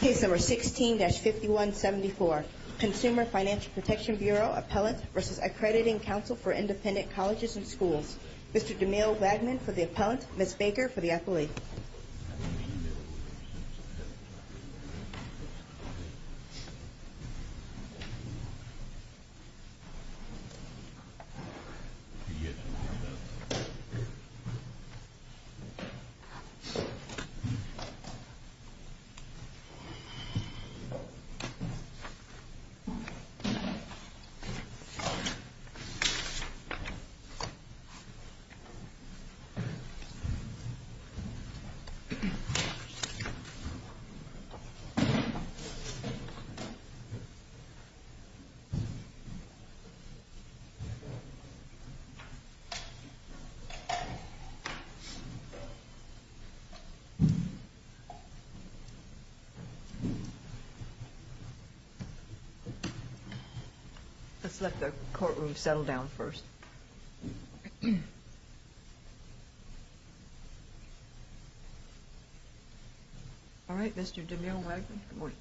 Case No. 16-5174 Consumer Financial Protection Bureau Appellant v. Accrediting Council For Independent Colleges and Schools Mr. Demille Wagner for the appellant, Ms. Baker for the appellee Let's let the courtroom settle down first. All right, Mr. Demille Wagner. Good morning.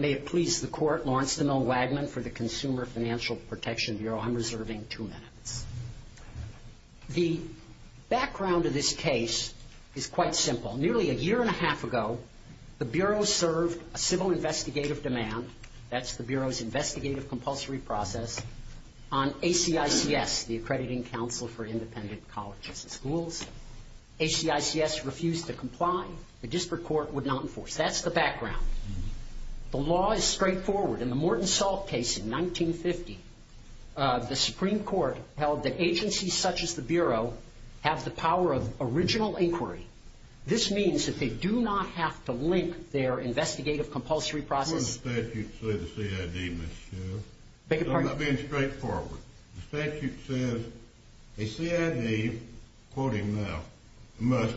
May it please the court, Lawrence Demille Wagner for the Consumer Financial Protection Bureau. I'm reserving two minutes. The background of this case is quite simple. Nearly a year and a half ago, the Bureau served a civil investigative demand, that's the Bureau's investigative compulsory process, on ACICS, the Accrediting Council For Independent Colleges and Schools. ACICS refused to comply. The district court would not enforce. That's the background. The law is straightforward. In the Morton Salt case in 1950, the Supreme Court held that agencies such as the Bureau have the power of original inquiry. This means that they do not have to link their investigative compulsory process. I'm not being straightforward. The statute says a CID must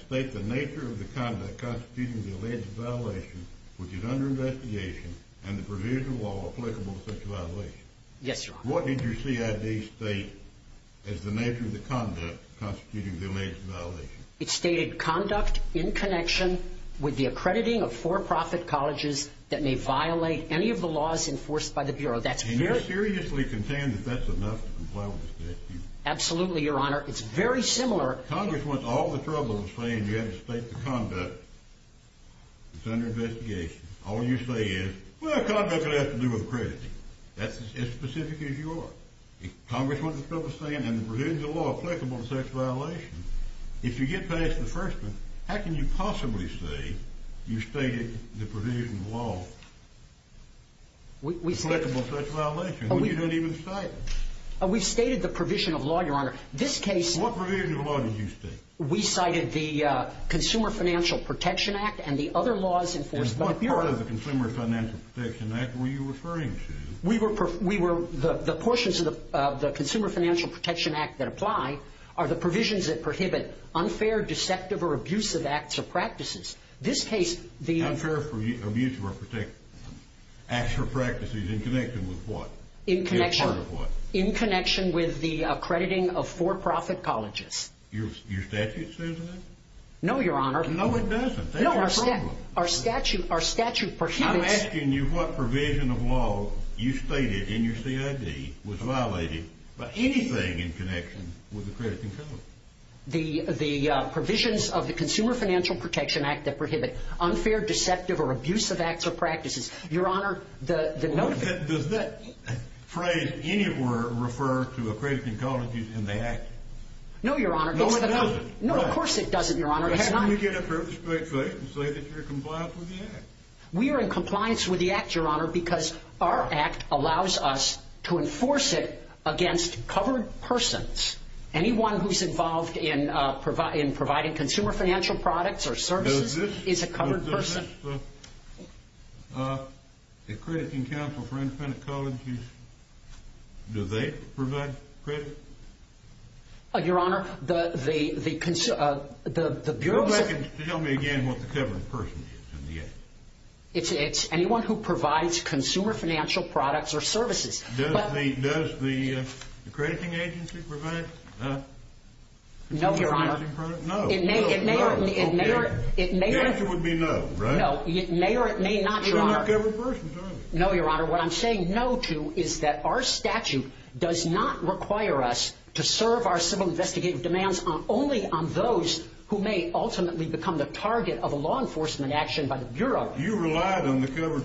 state the nature of the conduct constituting the alleged violation which is under investigation and the provision of law applicable to such a violation. Yes, Your Honor. What did your CID state as the nature of the conduct constituting the alleged violation? It stated conduct in connection with the accrediting of for-profit colleges that may violate any of the laws enforced by the Bureau. Do you seriously contend that that's enough to comply with this statute? Absolutely, Your Honor. It's very similar. Congress went to all the trouble of saying you have to state the conduct that's under investigation. All you say is, well, the conduct has to do with accrediting. That's as specific as you are. Congress went to all the trouble of saying the provision of law applicable to such a violation. If you get past the first one, how can you possibly say you stated the provision of law applicable to such a violation when you didn't even cite it? We've stated the provision of law, Your Honor. What provision of law did you state? We cited the Consumer Financial Protection Act and the other laws enforced by the Bureau. What part of the Consumer Financial Protection Act were you referring to? The portions of the Consumer Financial Protection Act that apply are the provisions that prohibit unfair, deceptive, or abusive acts or practices. Unfair, deceptive, or abusive acts or practices in connection with what? In connection with the accrediting of for-profit colleges. Your statute says that? No, Your Honor. No, it doesn't. No, our statute prohibits— I'm asking you what provision of law you stated in your CID was violated by anything in connection with accrediting colleges. The provisions of the Consumer Financial Protection Act that prohibit unfair, deceptive, or abusive acts or practices. Your Honor, the— Does that phrase anywhere refer to accrediting colleges in the act? No, Your Honor. No, it doesn't. No, of course it doesn't, Your Honor. It's not— Can we get a straight face and say that you're compliant with the act? We are in compliance with the act, Your Honor, because our act allows us to enforce it against covered persons. Anyone who's involved in providing consumer financial products or services is a covered person. Does this, does this, accrediting counsel for independent colleges, do they provide credit? Your Honor, the— Go back and tell me again what the covered person is in the act. It's anyone who provides consumer financial products or services. Does the accrediting agency provide consumer financial products? No, Your Honor. No. It may or it may not. The answer would be no, right? No, it may or it may not, Your Honor. Even not covered persons, are they? No, Your Honor. Your Honor, what I'm saying no to is that our statute does not require us to serve our civil investigative demands only on those who may ultimately become the target of a law enforcement action by the Bureau. You relied on the covered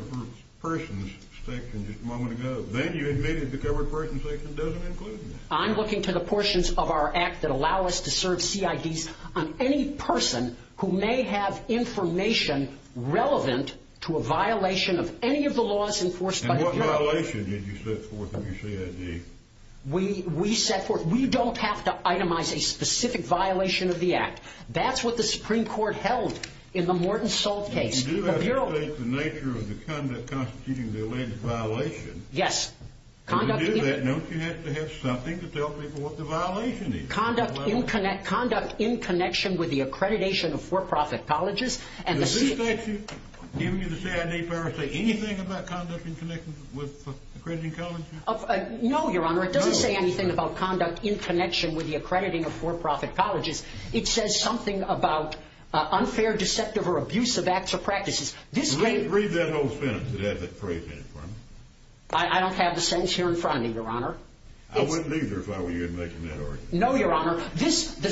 persons section just a moment ago. Then you admitted the covered persons section doesn't include them. I'm looking to the portions of our act that allow us to serve CIDs on any person who may have information relevant to a violation of any of the laws enforced by the Bureau. And what violation did you set forth in your CID? We set forth—we don't have to itemize a specific violation of the act. That's what the Supreme Court held in the Morton Salt case. You do have to state the nature of the conduct constituting the alleged violation. Yes. To do that, don't you have to have something to tell people what the violation is? Conduct in connection with the accreditation of for-profit colleges and the— Does the statute give you the CID power to say anything about conduct in connection with accrediting colleges? No, Your Honor. It doesn't say anything about conduct in connection with the accrediting of for-profit colleges. It says something about unfair, deceptive, or abusive acts or practices. Read that whole sentence that has that phrase in it for me. I don't have the sentence here in front of me, Your Honor. I wouldn't either if I were you in making that argument. No, Your Honor. This—the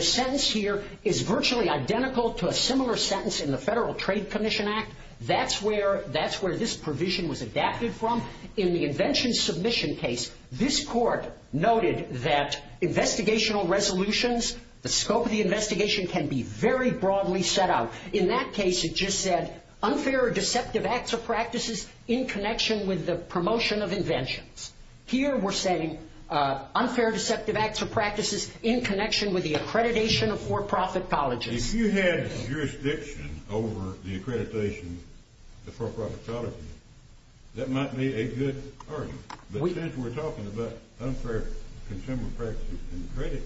sentence here is virtually identical to a similar sentence in the Federal Trade Commission Act. That's where—that's where this provision was adapted from. In the invention submission case, this court noted that investigational resolutions, the scope of the investigation can be very broadly set out. In that case, it just said unfair or deceptive acts or practices in connection with the promotion of inventions. Here, we're saying unfair, deceptive acts or practices in connection with the accreditation of for-profit colleges. If you had jurisdiction over the accreditation of for-profit colleges, that might be a good argument. But since we're talking about unfair, contempt of practice and credit,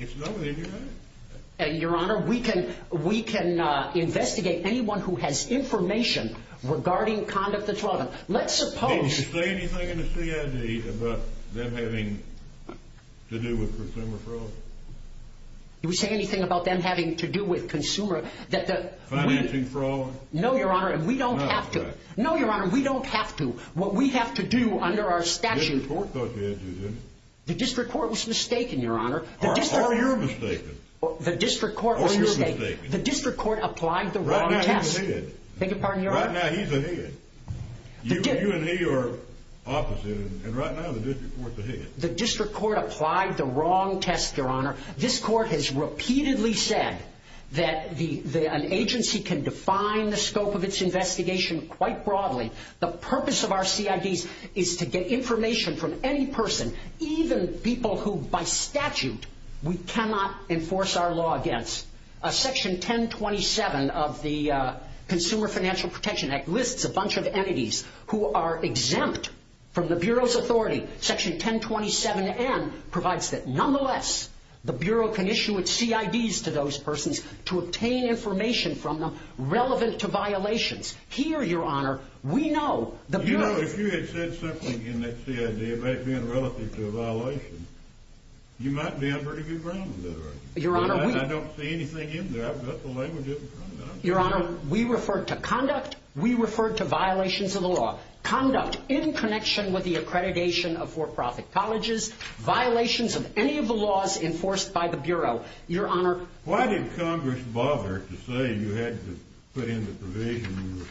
it's lower than your honor. Your Honor, we can—we can investigate anyone who has information regarding conduct that's lawful. Let's suppose— Did he say anything in the CID about them having to do with consumer fraud? Did he say anything about them having to do with consumer—that the— Financing fraud? No, Your Honor. We don't have to. No, Your Honor. We don't have to. What we have to do under our statute— The district court thought you had to, didn't it? The district court was mistaken, Your Honor. Or you're mistaken. The district court was mistaken. Or you're mistaken. The district court applied the wrong test. Right now, he's ahead. Beg your pardon, Your Honor? Right now, he's ahead. You and he are opposite, and right now, the district court's ahead. The district court applied the wrong test, Your Honor. This court has repeatedly said that an agency can define the scope of its investigation quite broadly. The purpose of our CIDs is to get information from any person, even people who, by statute, we cannot enforce our law against. Section 1027 of the Consumer Financial Protection Act lists a bunch of entities who are exempt from the Bureau's authority. Section 1027n provides that, nonetheless, the Bureau can issue its CIDs to those persons to obtain information from them relevant to violations. Here, Your Honor, we know the Bureau— You know, if you had said something in that CID about being relevant to a violation, you might be on pretty good ground with that argument. Your Honor, we— I don't see anything in there. I've got the language up in front of me. Your Honor, we referred to conduct. We referred to violations of the law. Conduct in connection with the accreditation of for-profit colleges, violations of any of the laws enforced by the Bureau. Your Honor— Why did Congress bother to say you had to put in the provision you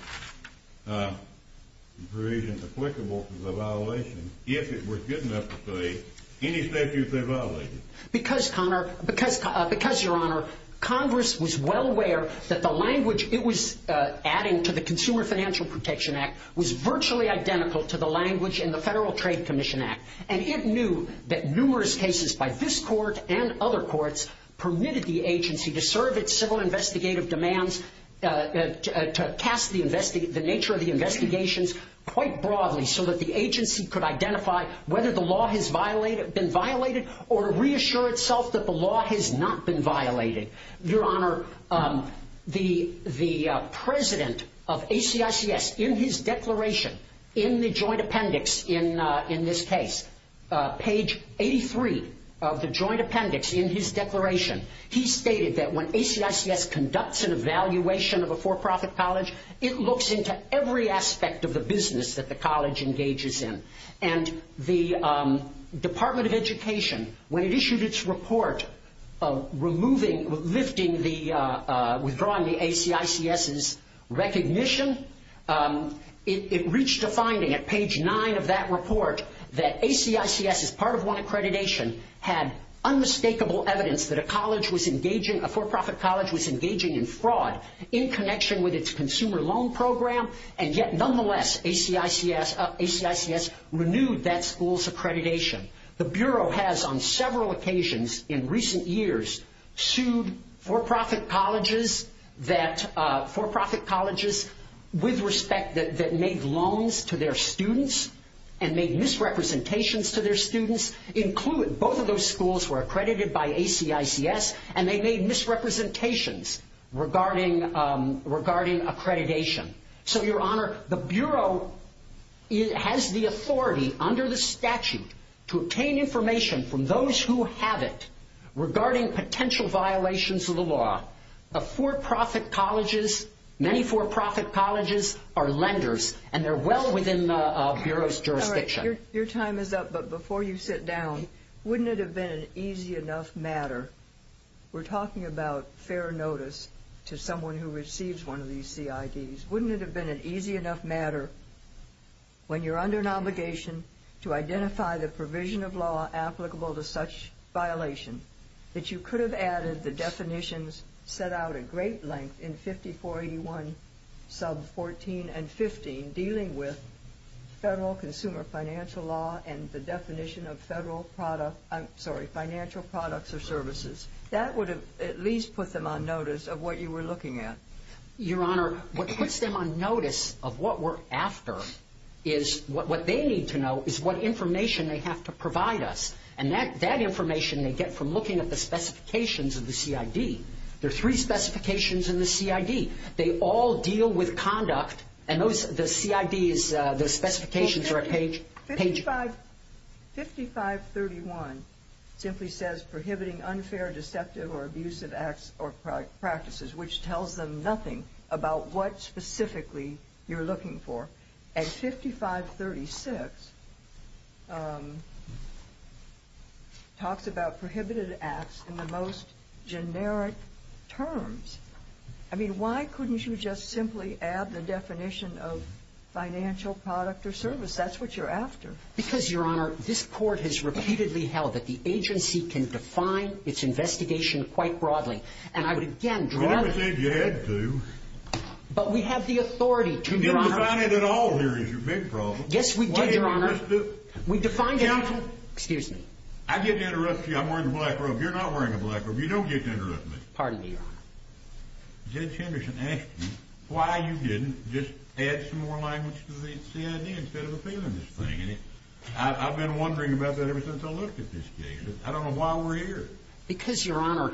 were—provision applicable to the violation if it was good enough to say any statute they violated? Because, Your Honor, Congress was well aware that the language it was adding to the Consumer Financial Protection Act was virtually identical to the language in the Federal Trade Commission Act. And it knew that numerous cases by this Court and other courts permitted the agency to serve its civil investigative demands, to cast the nature of the investigations quite broadly, so that the agency could identify whether the law has violated—been violated or reassure itself that the law has not been violated. Your Honor, the president of ACICS, in his declaration, in the joint appendix in this case, page 83 of the joint appendix in his declaration, he stated that when ACICS conducts an evaluation of a for-profit college, it looks into every aspect of the business that the college engages in. And the Department of Education, when it issued its report removing—lifting the—withdrawing the ACICS's recognition, it reached a finding at page 9 of that report that ACICS, as part of one accreditation, had unmistakable evidence that a college was engaging—a for-profit college was engaging in fraud in connection with its consumer loan program, and yet, nonetheless, ACICS—ACICS renewed that school's accreditation. The Bureau has, on several occasions in recent years, sued for-profit colleges that—for-profit colleges with respect that made loans to their students and made misrepresentations to their students, including—both of those schools were accredited by ACICS, and they made misrepresentations regarding—regarding accreditation. So, Your Honor, the Bureau has the authority, under the statute, to obtain information from those who have it regarding potential violations of the law. The for-profit colleges—many for-profit colleges are lenders, and they're well within the Bureau's jurisdiction. Your time is up, but before you sit down, wouldn't it have been an easy enough matter—we're talking about fair notice to someone who receives one of these CIDs— wouldn't it have been an easy enough matter, when you're under an obligation to identify the provision of law applicable to such violation, that you could have added the definitions set out at great length in 5481 sub 14 and 15 dealing with federal consumer financial law and the definition of federal product—I'm sorry, financial products or services? That would have at least put them on notice of what you were looking at. Your Honor, what puts them on notice of what we're after is—what they need to know is what information they have to provide us, and that information they get from looking at the specifications of the CID. There are three specifications in the CID. They all deal with conduct, and those—the CID is—the specifications are at page— 5531 simply says prohibiting unfair, deceptive, or abusive acts or practices, which tells them nothing about what specifically you're looking for. And 5536 talks about prohibited acts in the most generic terms. I mean, why couldn't you just simply add the definition of financial product or service? That's what you're after. Because, Your Honor, this Court has repeatedly held that the agency can define its investigation quite broadly. And I would again— I never said you had to. But we have the authority to, Your Honor— You didn't define it at all here is your big problem. Yes, we did, Your Honor. Why didn't you address it? We defined it— Counsel. Excuse me. I didn't address you. I'm wearing a black robe. You're not wearing a black robe. You don't get to address me. Pardon me, Your Honor. Judge Henderson asked me why you didn't just add some more language to the CID instead of appealing this thing. And I've been wondering about that ever since I looked at this case. I don't know why we're here. Because, Your Honor,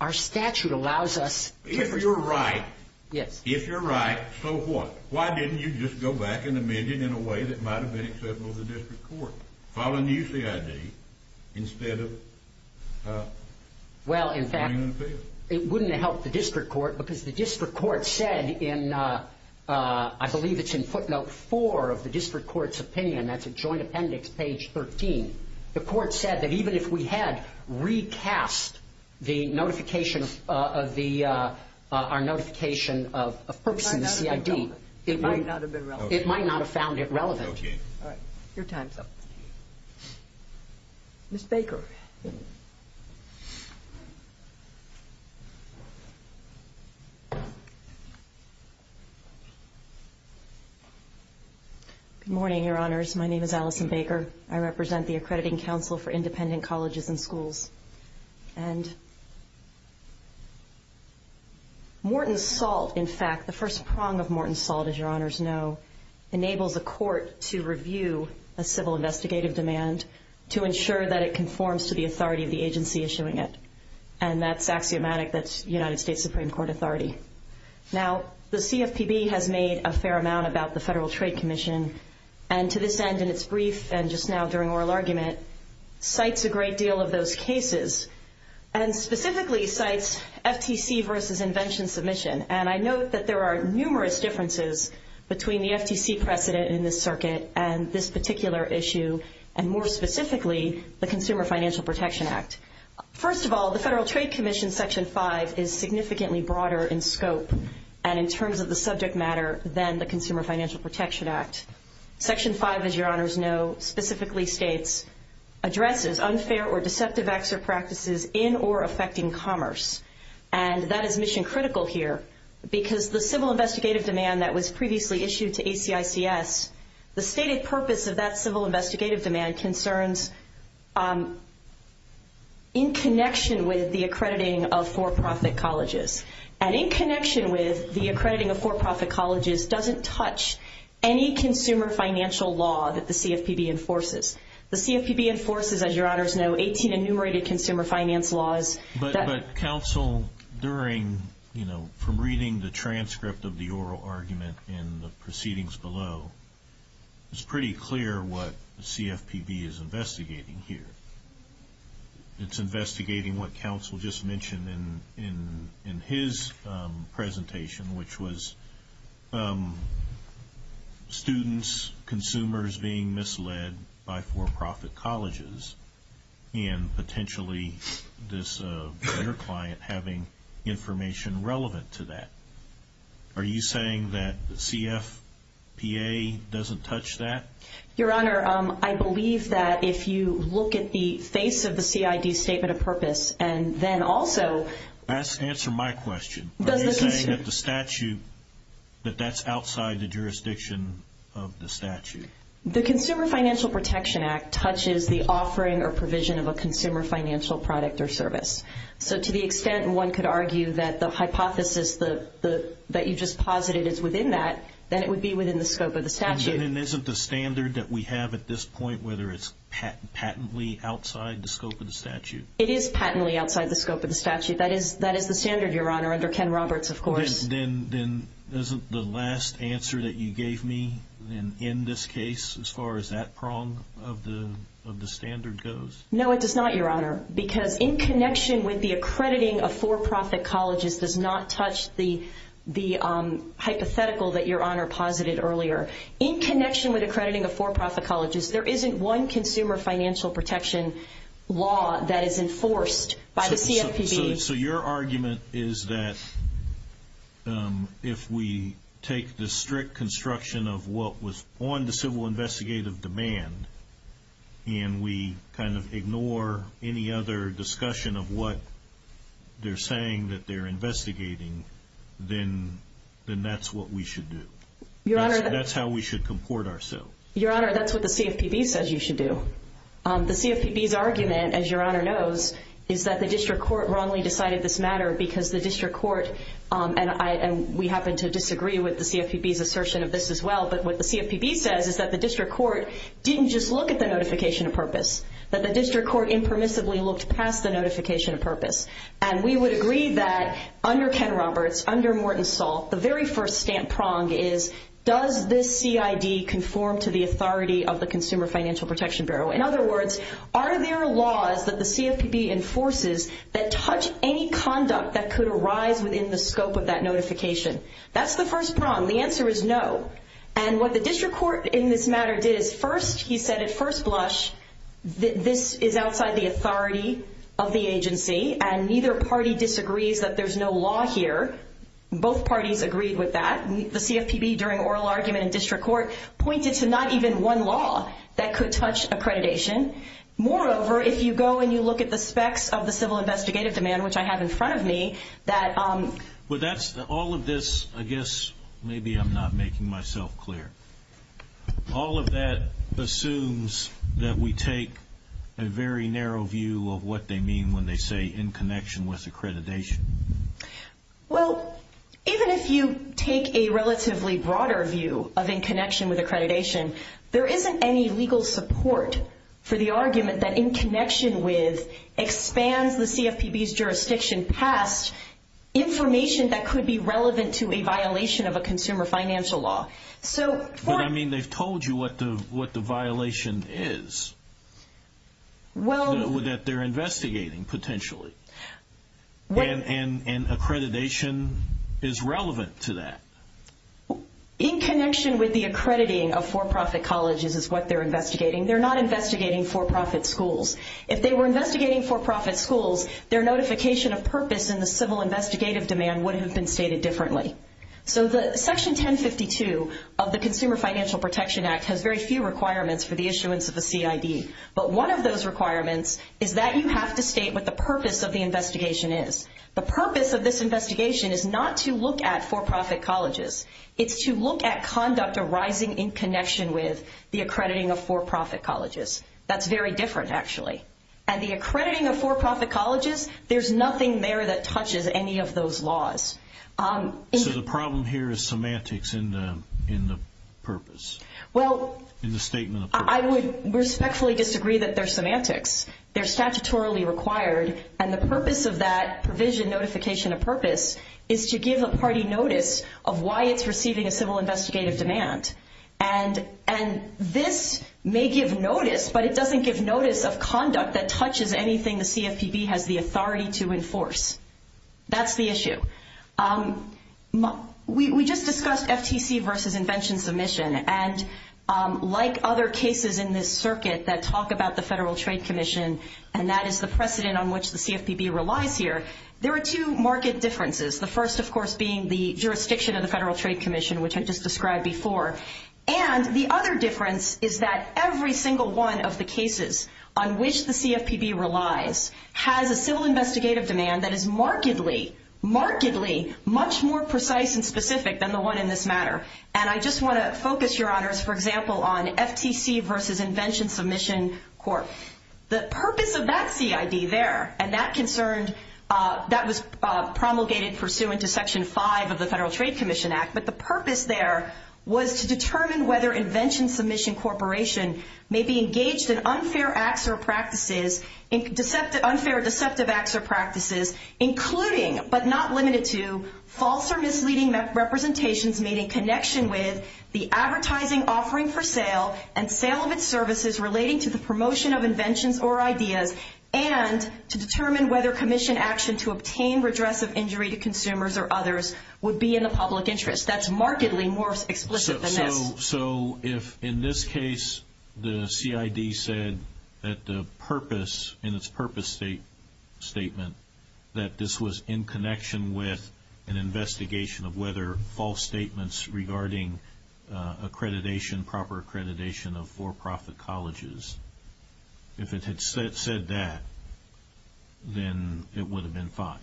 our statute allows us— If you're right— Yes. If you're right, so what? Why didn't you just go back and amend it in a way that might have been acceptable to the district court? Following the UCID instead of— Well, in fact, it wouldn't have helped the district court because the district court said in— I believe it's in footnote 4 of the district court's opinion. That's a joint appendix, page 13. The court said that even if we had recast the notification of the—our notification of purpose in the CID— It might not have been relevant. It might not have been relevant. It might not have found it relevant. Okay. All right. Your time's up. Ms. Baker. Good morning, Your Honors. My name is Allison Baker. I represent the Accrediting Council for Independent Colleges and Schools. And Morton Salt, in fact, the first prong of Morton Salt, as Your Honors know, enables a court to review a civil investigative demand to ensure that it conforms to the authority of the agency issuing it. And that's axiomatic. That's United States Supreme Court authority. Now, the CFPB has made a fair amount about the Federal Trade Commission, and to this end, in its brief and just now during oral argument, cites a great deal of those cases, and specifically cites FTC versus invention submission. And I note that there are numerous differences between the FTC precedent in this circuit and this particular issue, and more specifically, the Consumer Financial Protection Act. First of all, the Federal Trade Commission Section 5 is significantly broader in scope and in terms of the subject matter than the Consumer Financial Protection Act. Section 5, as Your Honors know, specifically states, addresses unfair or deceptive acts or practices in or affecting commerce. And that is mission critical here because the civil investigative demand that was previously issued to ACICS, the stated purpose of that civil investigative demand concerns in connection with the accrediting of for-profit colleges and in connection with the accrediting of for-profit colleges doesn't touch any consumer financial law that the CFPB enforces. The CFPB enforces, as Your Honors know, 18 enumerated consumer finance laws. But counsel, during, you know, from reading the transcript of the oral argument in the proceedings below, it's pretty clear what the CFPB is investigating here. It's investigating what counsel just mentioned in his presentation, which was students, consumers being misled by for-profit colleges and potentially this other client having information relevant to that. Are you saying that the CFPA doesn't touch that? Your Honor, I believe that if you look at the face of the CID Statement of Purpose and then also— Answer my question. Are you saying that the statute, that that's outside the jurisdiction of the statute? The Consumer Financial Protection Act touches the offering or provision of a consumer financial product or service. So to the extent one could argue that the hypothesis that you just posited is within that, then it would be within the scope of the statute. Then isn't the standard that we have at this point, whether it's patently outside the scope of the statute? It is patently outside the scope of the statute. That is the standard, Your Honor, under Ken Roberts, of course. Then isn't the last answer that you gave me in this case, as far as that prong of the standard goes? No, it does not, Your Honor, because in connection with the accrediting of for-profit colleges does not touch the hypothetical that Your Honor posited earlier. In connection with accrediting of for-profit colleges, there isn't one consumer financial protection law that is enforced by the CFPB. So your argument is that if we take the strict construction of what was on the civil investigative demand and we kind of ignore any other discussion of what they're saying that they're investigating, then that's what we should do. That's how we should comport ourselves. Your Honor, that's what the CFPB says you should do. The CFPB's argument, as Your Honor knows, is that the district court wrongly decided this matter because the district court, and we happen to disagree with the CFPB's assertion of this as well, but what the CFPB says is that the district court didn't just look at the notification of purpose, that the district court impermissibly looked past the notification of purpose. And we would agree that under Ken Roberts, under Morton Saul, the very first stamp prong is does this CID conform to the authority of the Consumer Financial Protection Bureau? In other words, are there laws that the CFPB enforces that touch any conduct that could arise within the scope of that notification? That's the first prong. The answer is no. And what the district court in this matter did is first he said at first blush that this is outside the authority of the agency and neither party disagrees that there's no law here. Both parties agreed with that. The CFPB during oral argument in district court pointed to not even one law that could touch accreditation. Moreover, if you go and you look at the specs of the civil investigative demand, which I have in front of me, that- But that's all of this, I guess, maybe I'm not making myself clear. All of that assumes that we take a very narrow view of what they mean when they say in connection with accreditation. Well, even if you take a relatively broader view of in connection with accreditation, there isn't any legal support for the argument that in connection with expands the CFPB's jurisdiction past information that could be relevant to a violation of a consumer financial law. So for- But I mean they've told you what the violation is. Well- That they're investigating potentially. And accreditation is relevant to that. In connection with the accrediting of for-profit colleges is what they're investigating. They're not investigating for-profit schools. If they were investigating for-profit schools, their notification of purpose in the civil investigative demand would have been stated differently. So the section 1052 of the Consumer Financial Protection Act has very few requirements for the issuance of a CID. But one of those requirements is that you have to state what the purpose of the investigation is. The purpose of this investigation is not to look at for-profit colleges. It's to look at conduct arising in connection with the accrediting of for-profit colleges. That's very different, actually. And the accrediting of for-profit colleges, there's nothing there that touches any of those laws. So the problem here is semantics in the purpose. Well- In the statement of purpose. I would respectfully disagree that they're semantics. They're statutorily required. And the purpose of that provision notification of purpose is to give a party notice of why it's receiving a civil investigative demand. And this may give notice, but it doesn't give notice of conduct that touches anything the CFPB has the authority to enforce. That's the issue. We just discussed FTC versus invention submission. And like other cases in this circuit that talk about the Federal Trade Commission, and that is the precedent on which the CFPB relies here, there are two market differences. The first, of course, being the jurisdiction of the Federal Trade Commission, which I just described before. And the other difference is that every single one of the cases on which the CFPB relies has a civil investigative demand that is markedly, markedly much more precise and specific than the one in this matter. And I just want to focus, Your Honors, for example, on FTC versus invention submission court. The purpose of that CID there, and that concerned, that was promulgated pursuant to Section 5 of the Federal Trade Commission Act. But the purpose there was to determine whether invention submission corporation may be engaged in unfair acts or practices, unfair deceptive acts or practices, including, but not limited to, false or misleading representations made in connection with the advertising offering for sale and sale of its services relating to the promotion of inventions or ideas, and to determine whether commission action to obtain redress of injury to consumers or others would be in the public interest. That's markedly more explicit than this. So if, in this case, the CID said that the purpose, in its purpose statement, that this was in connection with an investigation of whether false statements regarding accreditation, proper accreditation of for-profit colleges, if it had said that, then it would have been fine.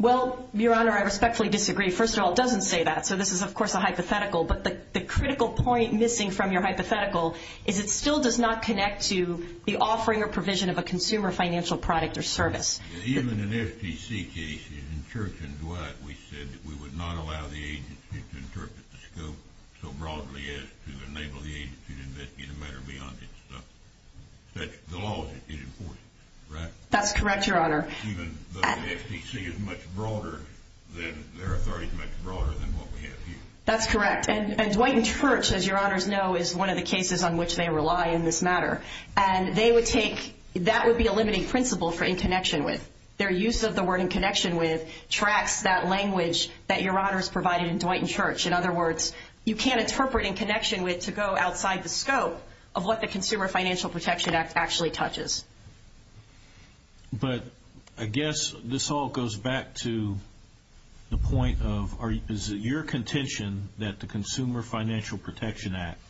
Well, Your Honor, I respectfully disagree. First of all, it doesn't say that, so this is, of course, a hypothetical. But the critical point missing from your hypothetical is it still does not connect to the offering or provision of a consumer financial product or service. Even in FTC cases, in Church and Dwight, we said that we would not allow the agency to interpret the scope so broadly as to enable the agency to investigate a matter beyond its scope. The law is important, right? That's correct, Your Honor. Even though the FTC is much broader, their authority is much broader than what we have here. That's correct. And Dwight and Church, as Your Honors know, is one of the cases on which they rely in this matter. And they would take, that would be a limiting principle for in connection with. Their use of the word in connection with tracks that language that Your Honors provided in Dwight and Church. In other words, you can't interpret in connection with to go outside the scope of what the Consumer Financial Protection Act actually touches. But I guess this all goes back to the point of, is it your contention that the Consumer Financial Protection Act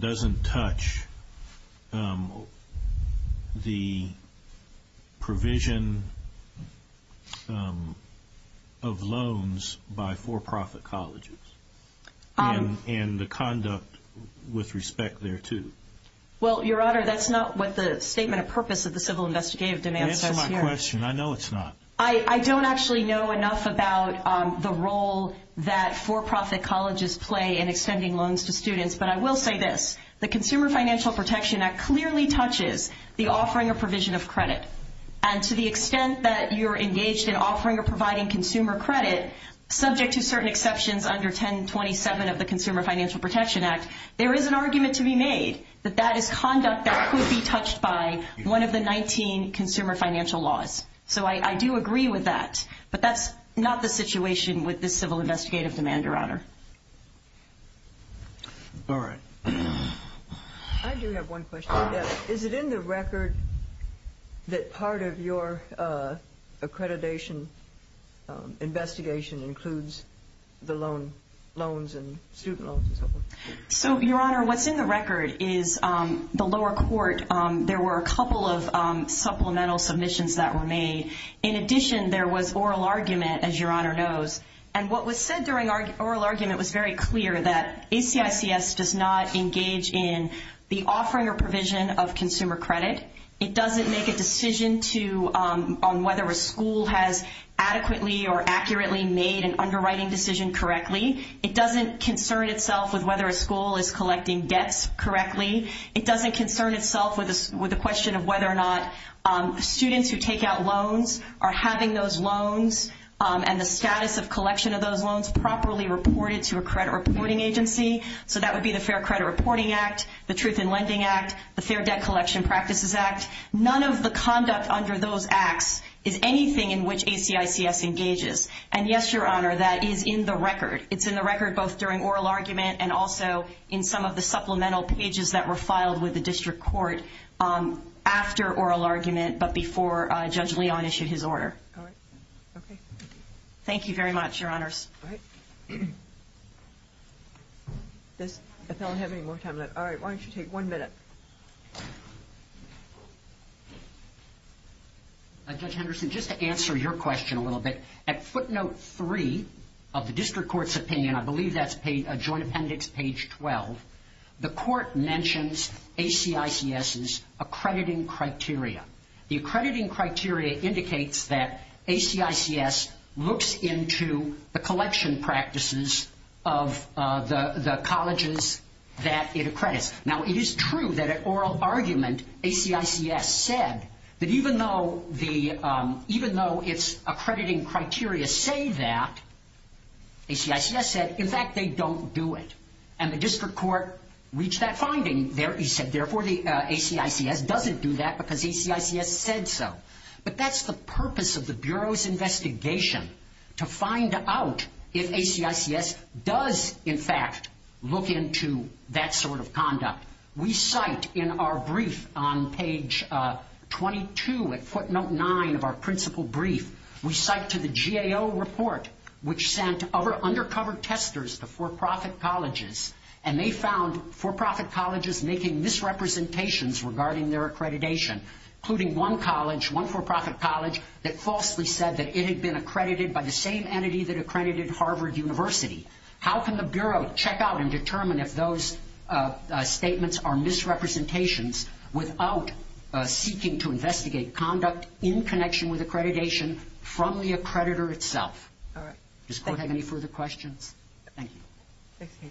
doesn't touch the provision of loans by for-profit colleges and the conduct with respect there to? Well, Your Honor, that's not what the statement of purpose of the civil investigative demand says here. Answer my question. I know it's not. I don't actually know enough about the role that for-profit colleges play in extending loans to students. But I will say this. The Consumer Financial Protection Act clearly touches the offering or provision of credit. And to the extent that you're engaged in offering or providing consumer credit, subject to certain exceptions under 1027 of the Consumer Financial Protection Act, there is an argument to be made that that is conduct that could be touched by one of the 19 consumer financial laws. So I do agree with that. But that's not the situation with this civil investigative demand, Your Honor. All right. I do have one question. Is it in the record that part of your accreditation investigation includes the loans and student loans and so forth? So, Your Honor, what's in the record is the lower court, there were a couple of supplemental submissions that were made. In addition, there was oral argument, as Your Honor knows. And what was said during oral argument was very clear that ACICS does not engage in the offering or provision of consumer credit. It doesn't make a decision on whether a school has adequately or accurately made an underwriting decision correctly. It doesn't concern itself with whether a school is collecting debts correctly. It doesn't concern itself with the question of whether or not students who take out loans are having those loans and the status of collection of those loans properly reported to a credit reporting agency. So that would be the Fair Credit Reporting Act, the Truth in Lending Act, the Fair Debt Collection Practices Act. None of the conduct under those acts is anything in which ACICS engages. And, yes, Your Honor, that is in the record. It's in the record both during oral argument and also in some of the supplemental pages that were filed with the district court after oral argument but before Judge Leon issued his order. All right. Okay. Thank you very much, Your Honors. All right. If I don't have any more time left, all right, why don't you take one minute? Judge Henderson, just to answer your question a little bit, at footnote 3 of the district court's opinion, I believe that's joint appendix page 12, the court mentions ACICS's accrediting criteria. The accrediting criteria indicates that ACICS looks into the collection practices of the colleges that it accredits. Now, it is true that at oral argument ACICS said that even though it's accrediting criteria say that, ACICS said, in fact, they don't do it. And the district court reached that finding. He said, therefore, ACICS doesn't do that because ACICS said so. But that's the purpose of the Bureau's investigation, to find out if ACICS does, in fact, look into that sort of conduct. We cite in our brief on page 22 at footnote 9 of our principal brief, we cite to the GAO report which sent undercover testers to for-profit colleges, and they found for-profit colleges making misrepresentations regarding their accreditation, including one college, one for-profit college, that falsely said that it had been accredited by the same entity that accredited Harvard University. How can the Bureau check out and determine if those statements are misrepresentations without seeking to investigate conduct in connection with accreditation from the accreditor itself? Does the court have any further questions? Thank you. Thank you.